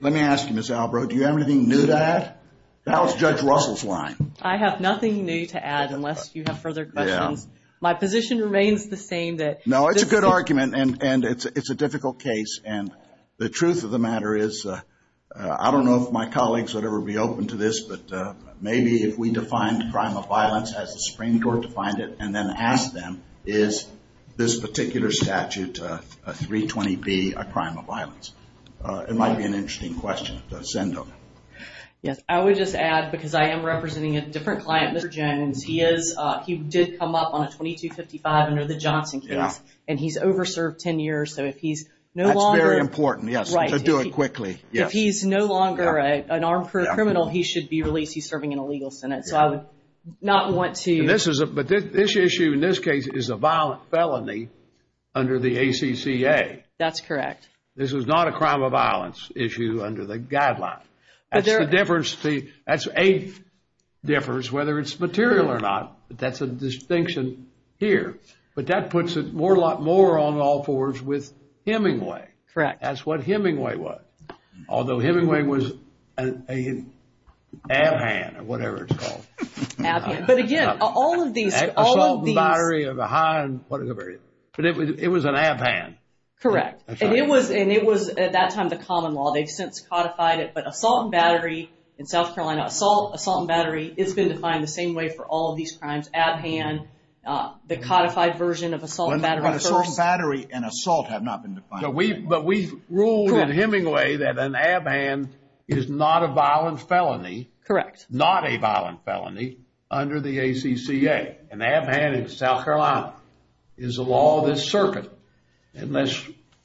Let me ask you, Ms. Albrow, do you have anything new to add? Now it's Judge Russell's line. I have nothing new to add unless you have further questions. My position remains the same. No, it's a good argument, and it's a difficult case. And the truth of the matter is I don't know if my colleagues would ever be open to this, but maybe if we defined crime of violence as the Supreme Court defined it and then asked them, is this particular statute, 320B, a crime of violence, it might be an interesting question to send them. Yes, I would just add, because I am representing a different client, Mr. Jones, he did come up on a 2255 under the Johnson case, and he's over-served 10 years. So if he's no longer – That's very important, yes, to do it quickly. If he's no longer an armed criminal, he should be released. He's serving in a legal sentence. So I would not want to – But this issue in this case is a violent felony under the ACCA. That's correct. This is not a crime of violence issue under the guideline. That's the difference. See, that's a difference whether it's material or not, but that's a distinction here. But that puts it more on all fours with Hemingway. Correct. That's what Hemingway was, although Hemingway was an ab-hand or whatever it's called. Ab-hand. But again, all of these – Assault and battery of a high – But it was an ab-hand. Correct. And it was, at that time, the common law. They've since codified it. But assault and battery in South Carolina, assault, assault and battery, it's been defined the same way for all of these crimes. Ab-hand, the codified version of assault and battery first. Assault and battery and assault have not been defined. But we've ruled in Hemingway that an ab-hand is not a violent felony. Correct. Not a violent felony under the ACCA. An ab-hand in South Carolina is the law of this circuit. Unless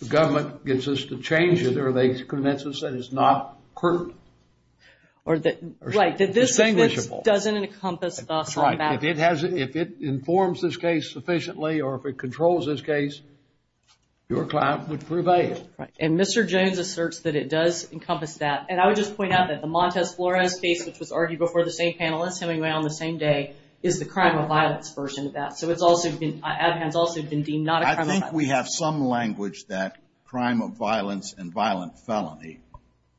the government gets us to change it or they convince us that it's not pertinent. Right. That this doesn't encompass assault and battery. That's right. If it informs this case sufficiently or if it controls this case, your client would prevail. Right. And Mr. Jones asserts that it does encompass that. And I would just point out that the Montez Flores case, which was argued before the same panel as Hemingway on the same day, is the crime of violence version of that. So it's also been, ab-hands also have been deemed not a crime of violence. I think we have some language that crime of violence and violent felony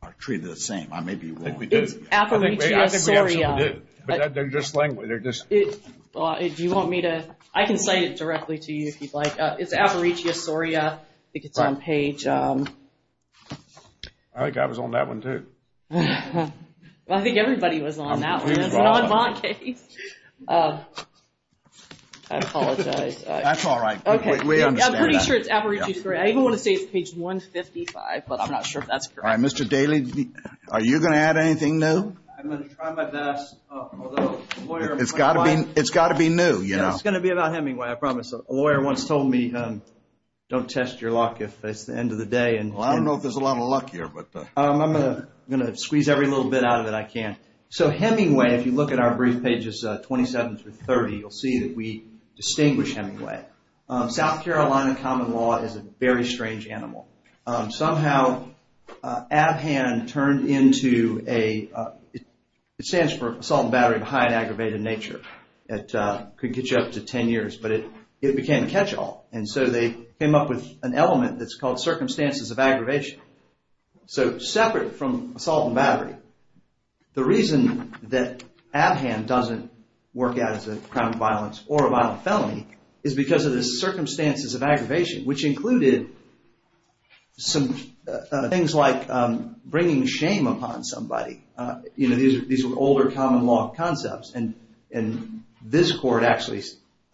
are treated the same. I may be wrong. I think we do. It's Aparicio Soria. I think we absolutely do. But they're just language. They're just. Do you want me to? I can cite it directly to you if you'd like. It's Aparicio Soria. I think it's on page. I think I was on that one too. I think everybody was on that one. It's an en banc case. I apologize. That's all right. We understand that. I'm pretty sure it's Aparicio Soria. I even want to say it's page 155, but I'm not sure if that's correct. All right. Mr. Daly, are you going to add anything new? I'm going to try my best. It's got to be new, you know. It's going to be about Hemingway, I promise. A lawyer once told me don't test your luck if it's the end of the day. Well, I don't know if there's a lot of luck here. I'm going to squeeze every little bit out of it I can. So Hemingway, if you look at our brief pages 27 through 30, you'll see that we distinguish Hemingway. South Carolina common law is a very strange animal. Somehow, ABHAN turned into a, it stands for Assault and Battery of High and Aggravated Nature. It could get you up to 10 years, but it became a catch-all. And so they came up with an element that's called Circumstances of Aggravation. So separate from Assault and Battery, the reason that ABHAN doesn't work out as a crime of violence or a violent felony is because of the Circumstances of Aggravation, which included some things like bringing shame upon somebody. You know, these were older common law concepts. And this court actually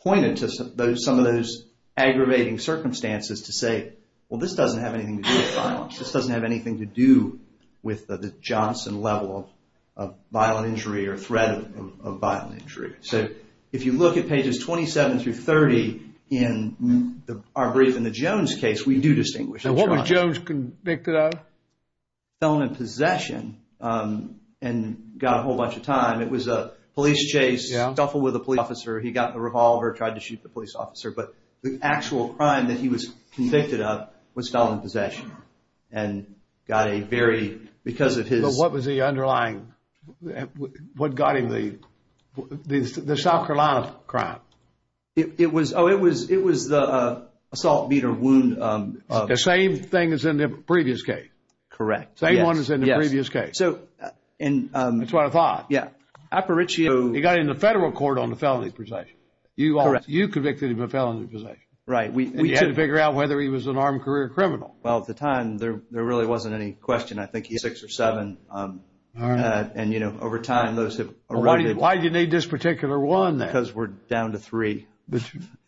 pointed to some of those aggravating circumstances to say, well, this doesn't have anything to do with violence. This doesn't have anything to do with the Johnson level of violent injury or threat of violent injury. So if you look at pages 27 through 30 in our brief, in the Jones case, we do distinguish. And what was Jones convicted of? Felon in possession and got a whole bunch of time. It was a police chase, stuffed with a police officer. He got the revolver, tried to shoot the police officer. But the actual crime that he was convicted of was felon in possession and got a very, because of his. But what was the underlying, what got him the South Carolina crime? It was the assault, beat, or wound. The same thing as in the previous case. Correct. Same one as in the previous case. So in. That's what I thought. Yeah. Aparicio. He got into federal court on the felony possession. Correct. Yes. You convicted him of felony possession. Right. We had to figure out whether he was an armed career criminal. Well, at the time, there really wasn't any question. I think he's six or seven. And, you know, over time, those have. Why do you need this particular one? Because we're down to three.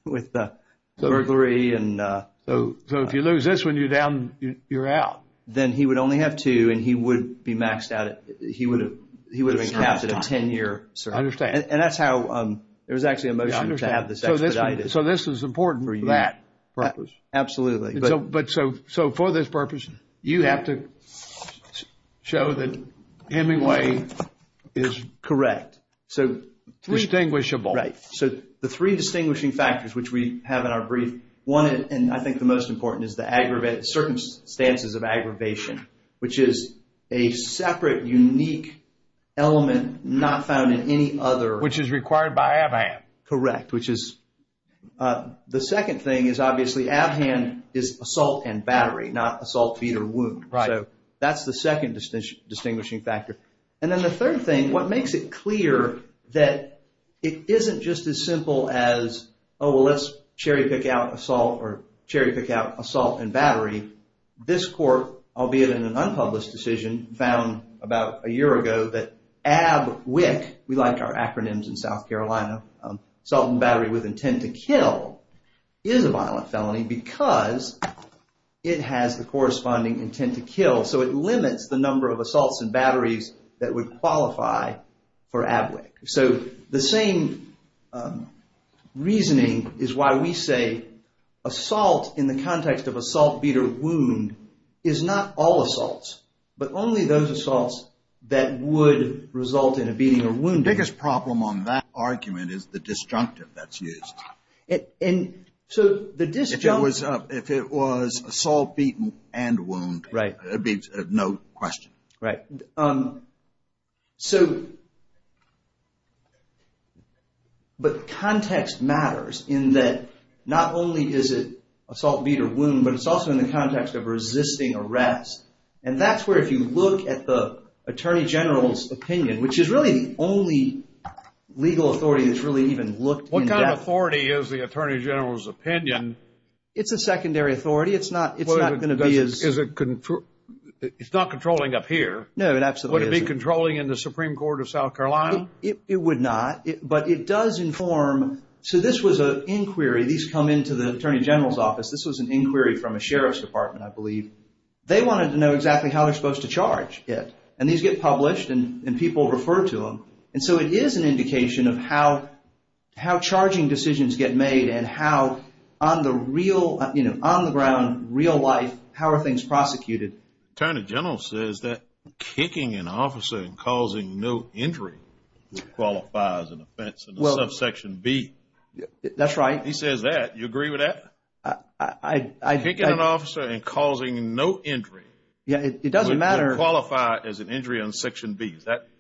With the burglary and. So if you lose this one, you're down, you're out. Then he would only have two and he would be maxed out. He would have been captured a 10 year. I understand. And that's how there was actually a motion to have this expedited. So this is important for that purpose. Absolutely. But. So. So for this purpose, you have to show that Hemingway is. Correct. So. Distinguishable. Right. So the three distinguishing factors which we have in our brief. One. And I think the most important is the aggravated circumstances of aggravation, which is a separate, unique element not found in any other. Which is required by Abham. Correct. Which is the second thing is obviously Abham is assault and battery, not assault, beat or wound. Right. So that's the second distinguishing factor. And then the third thing, what makes it clear that it isn't just as simple as, oh, well, let's cherry pick out assault or cherry pick out assault and battery. This court, albeit in an unpublished decision, found about a year ago that ABWIC, we like our acronyms in South Carolina, assault and battery with intent to kill, is a violent felony because it has the corresponding intent to kill. So it limits the number of assaults and batteries that would qualify for ABWIC. So the same reasoning is why we say assault in the context of assault, beat or wound is not all assaults, but only those assaults that would result in a beating or wound. The biggest problem on that argument is the disjunctive that's used. And so the disjunctive. If it was assault, beat and wound. Right. There'd be no question. Right. So, but context matters in that not only is it assault, beat or wound, but it's also in the context of resisting arrest. And that's where if you look at the attorney general's opinion, which is really the only legal authority that's really even looked in depth. What kind of authority is the attorney general's opinion? It's a secondary authority. It's not going to be as. It's not controlling up here. No, it absolutely isn't. Would it be controlling in the Supreme Court of South Carolina? It would not, but it does inform. So this was an inquiry. These come into the attorney general's office. This was an inquiry from a sheriff's department, I believe. They wanted to know exactly how they're supposed to charge it. And these get published and people refer to them. And so it is an indication of how charging decisions get made and how on the real, you know, on the ground, real life, how are things prosecuted. Attorney general says that kicking an officer and causing no injury qualifies as an offense in the subsection B. That's right. He says that. Do you agree with that? Kicking an officer and causing no injury. Yeah, it doesn't matter. Would qualify as an injury on section B.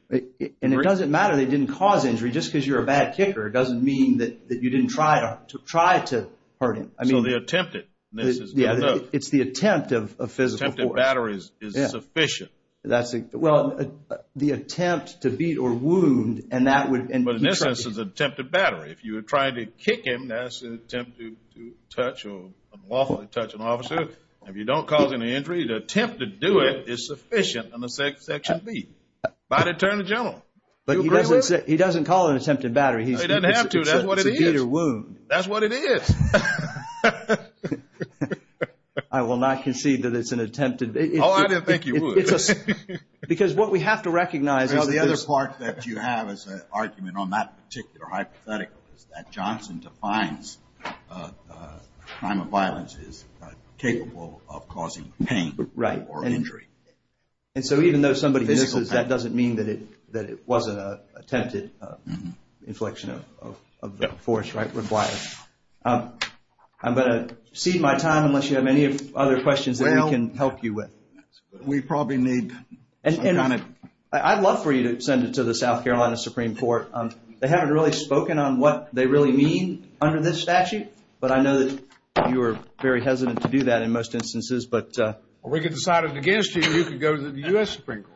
And it doesn't matter they didn't cause injury. Just because you're a bad kicker doesn't mean that you didn't try to hurt him. So the attempted, this is good enough. Yeah, it's the attempt of physical force. Attempted battery is sufficient. Well, the attempt to beat or wound and that would. But in this instance, attempted battery. If you were trying to kick him, that's an attempt to touch or unlawfully touch an officer. If you don't cause any injury, the attempt to do it is sufficient on the section B. By the attorney general. But he doesn't call it an attempted battery. He doesn't have to. That's what it is. It's a beat or wound. That's what it is. I will not concede that it's an attempted. Oh, I didn't think you would. Because what we have to recognize. The other part that you have as an argument on that particular hypothetical is that Johnson defines the crime of violence is capable of causing pain or injury. And so even though somebody misses, that doesn't mean that it wasn't an attempted inflection of force. I'm going to cede my time unless you have any other questions that we can help you with. We probably need. I'd love for you to send it to the South Carolina Supreme Court. They haven't really spoken on what they really mean under this statute. But I know that you are very hesitant to do that in most instances. We could decide it against you. You could go to the U.S. Supreme Court.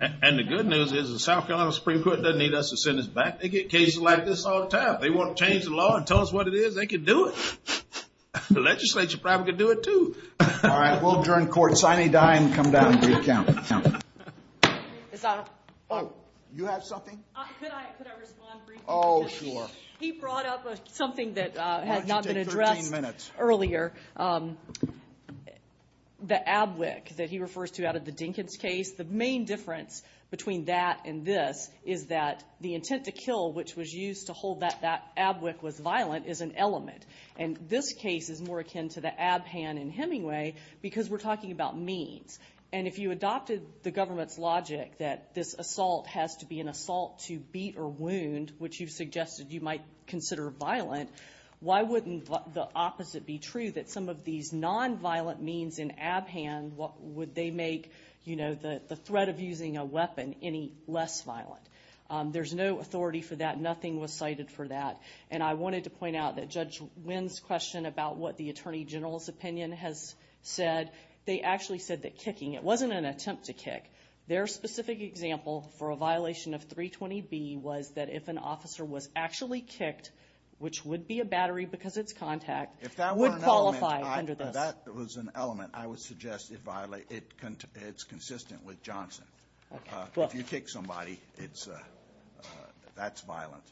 And the good news is the South Carolina Supreme Court doesn't need us to send this back. They get cases like this all the time. They want to change the law and tell us what it is, they can do it. The legislature probably could do it too. All right. We'll adjourn court. Sign a dime, come down and recount. You have something? Could I respond briefly? Oh, sure. He brought up something that had not been addressed earlier. Why don't you take 13 minutes? The abwick that he refers to out of the Dinkins case, the main difference between that and this is that the intent to kill, which was used to hold that abwick was violent, is an element. And this case is more akin to the Abhan in Hemingway because we're talking about means. And if you adopted the government's logic that this assault has to be an assault to beat or wound, which you've suggested you might consider violent, why wouldn't the opposite be true, that some of these nonviolent means in Abhan, would they make the threat of using a weapon any less violent? There's no authority for that. Nothing was cited for that. And I wanted to point out that Judge Wynn's question about what the Attorney General's opinion has said, they actually said that kicking, it wasn't an attempt to kick. Their specific example for a violation of 320B was that if an officer was actually kicked, which would be a battery because it's contact, would qualify under this. If that were an element, I would suggest it's consistent with Johnson. If you kick somebody, that's violent.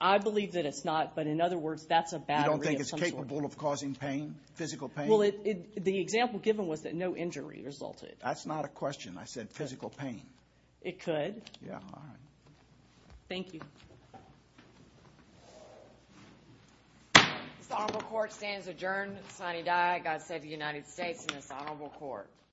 I believe that it's not. But in other words, that's a battery of some sort. You don't think it's capable of causing pain, physical pain? Well, the example given was that no injury resulted. That's not a question. I said physical pain. It could. Yeah. All right. Thank you. This honorable court stands adjourned. Sonny Dye, God save the United States and this honorable court.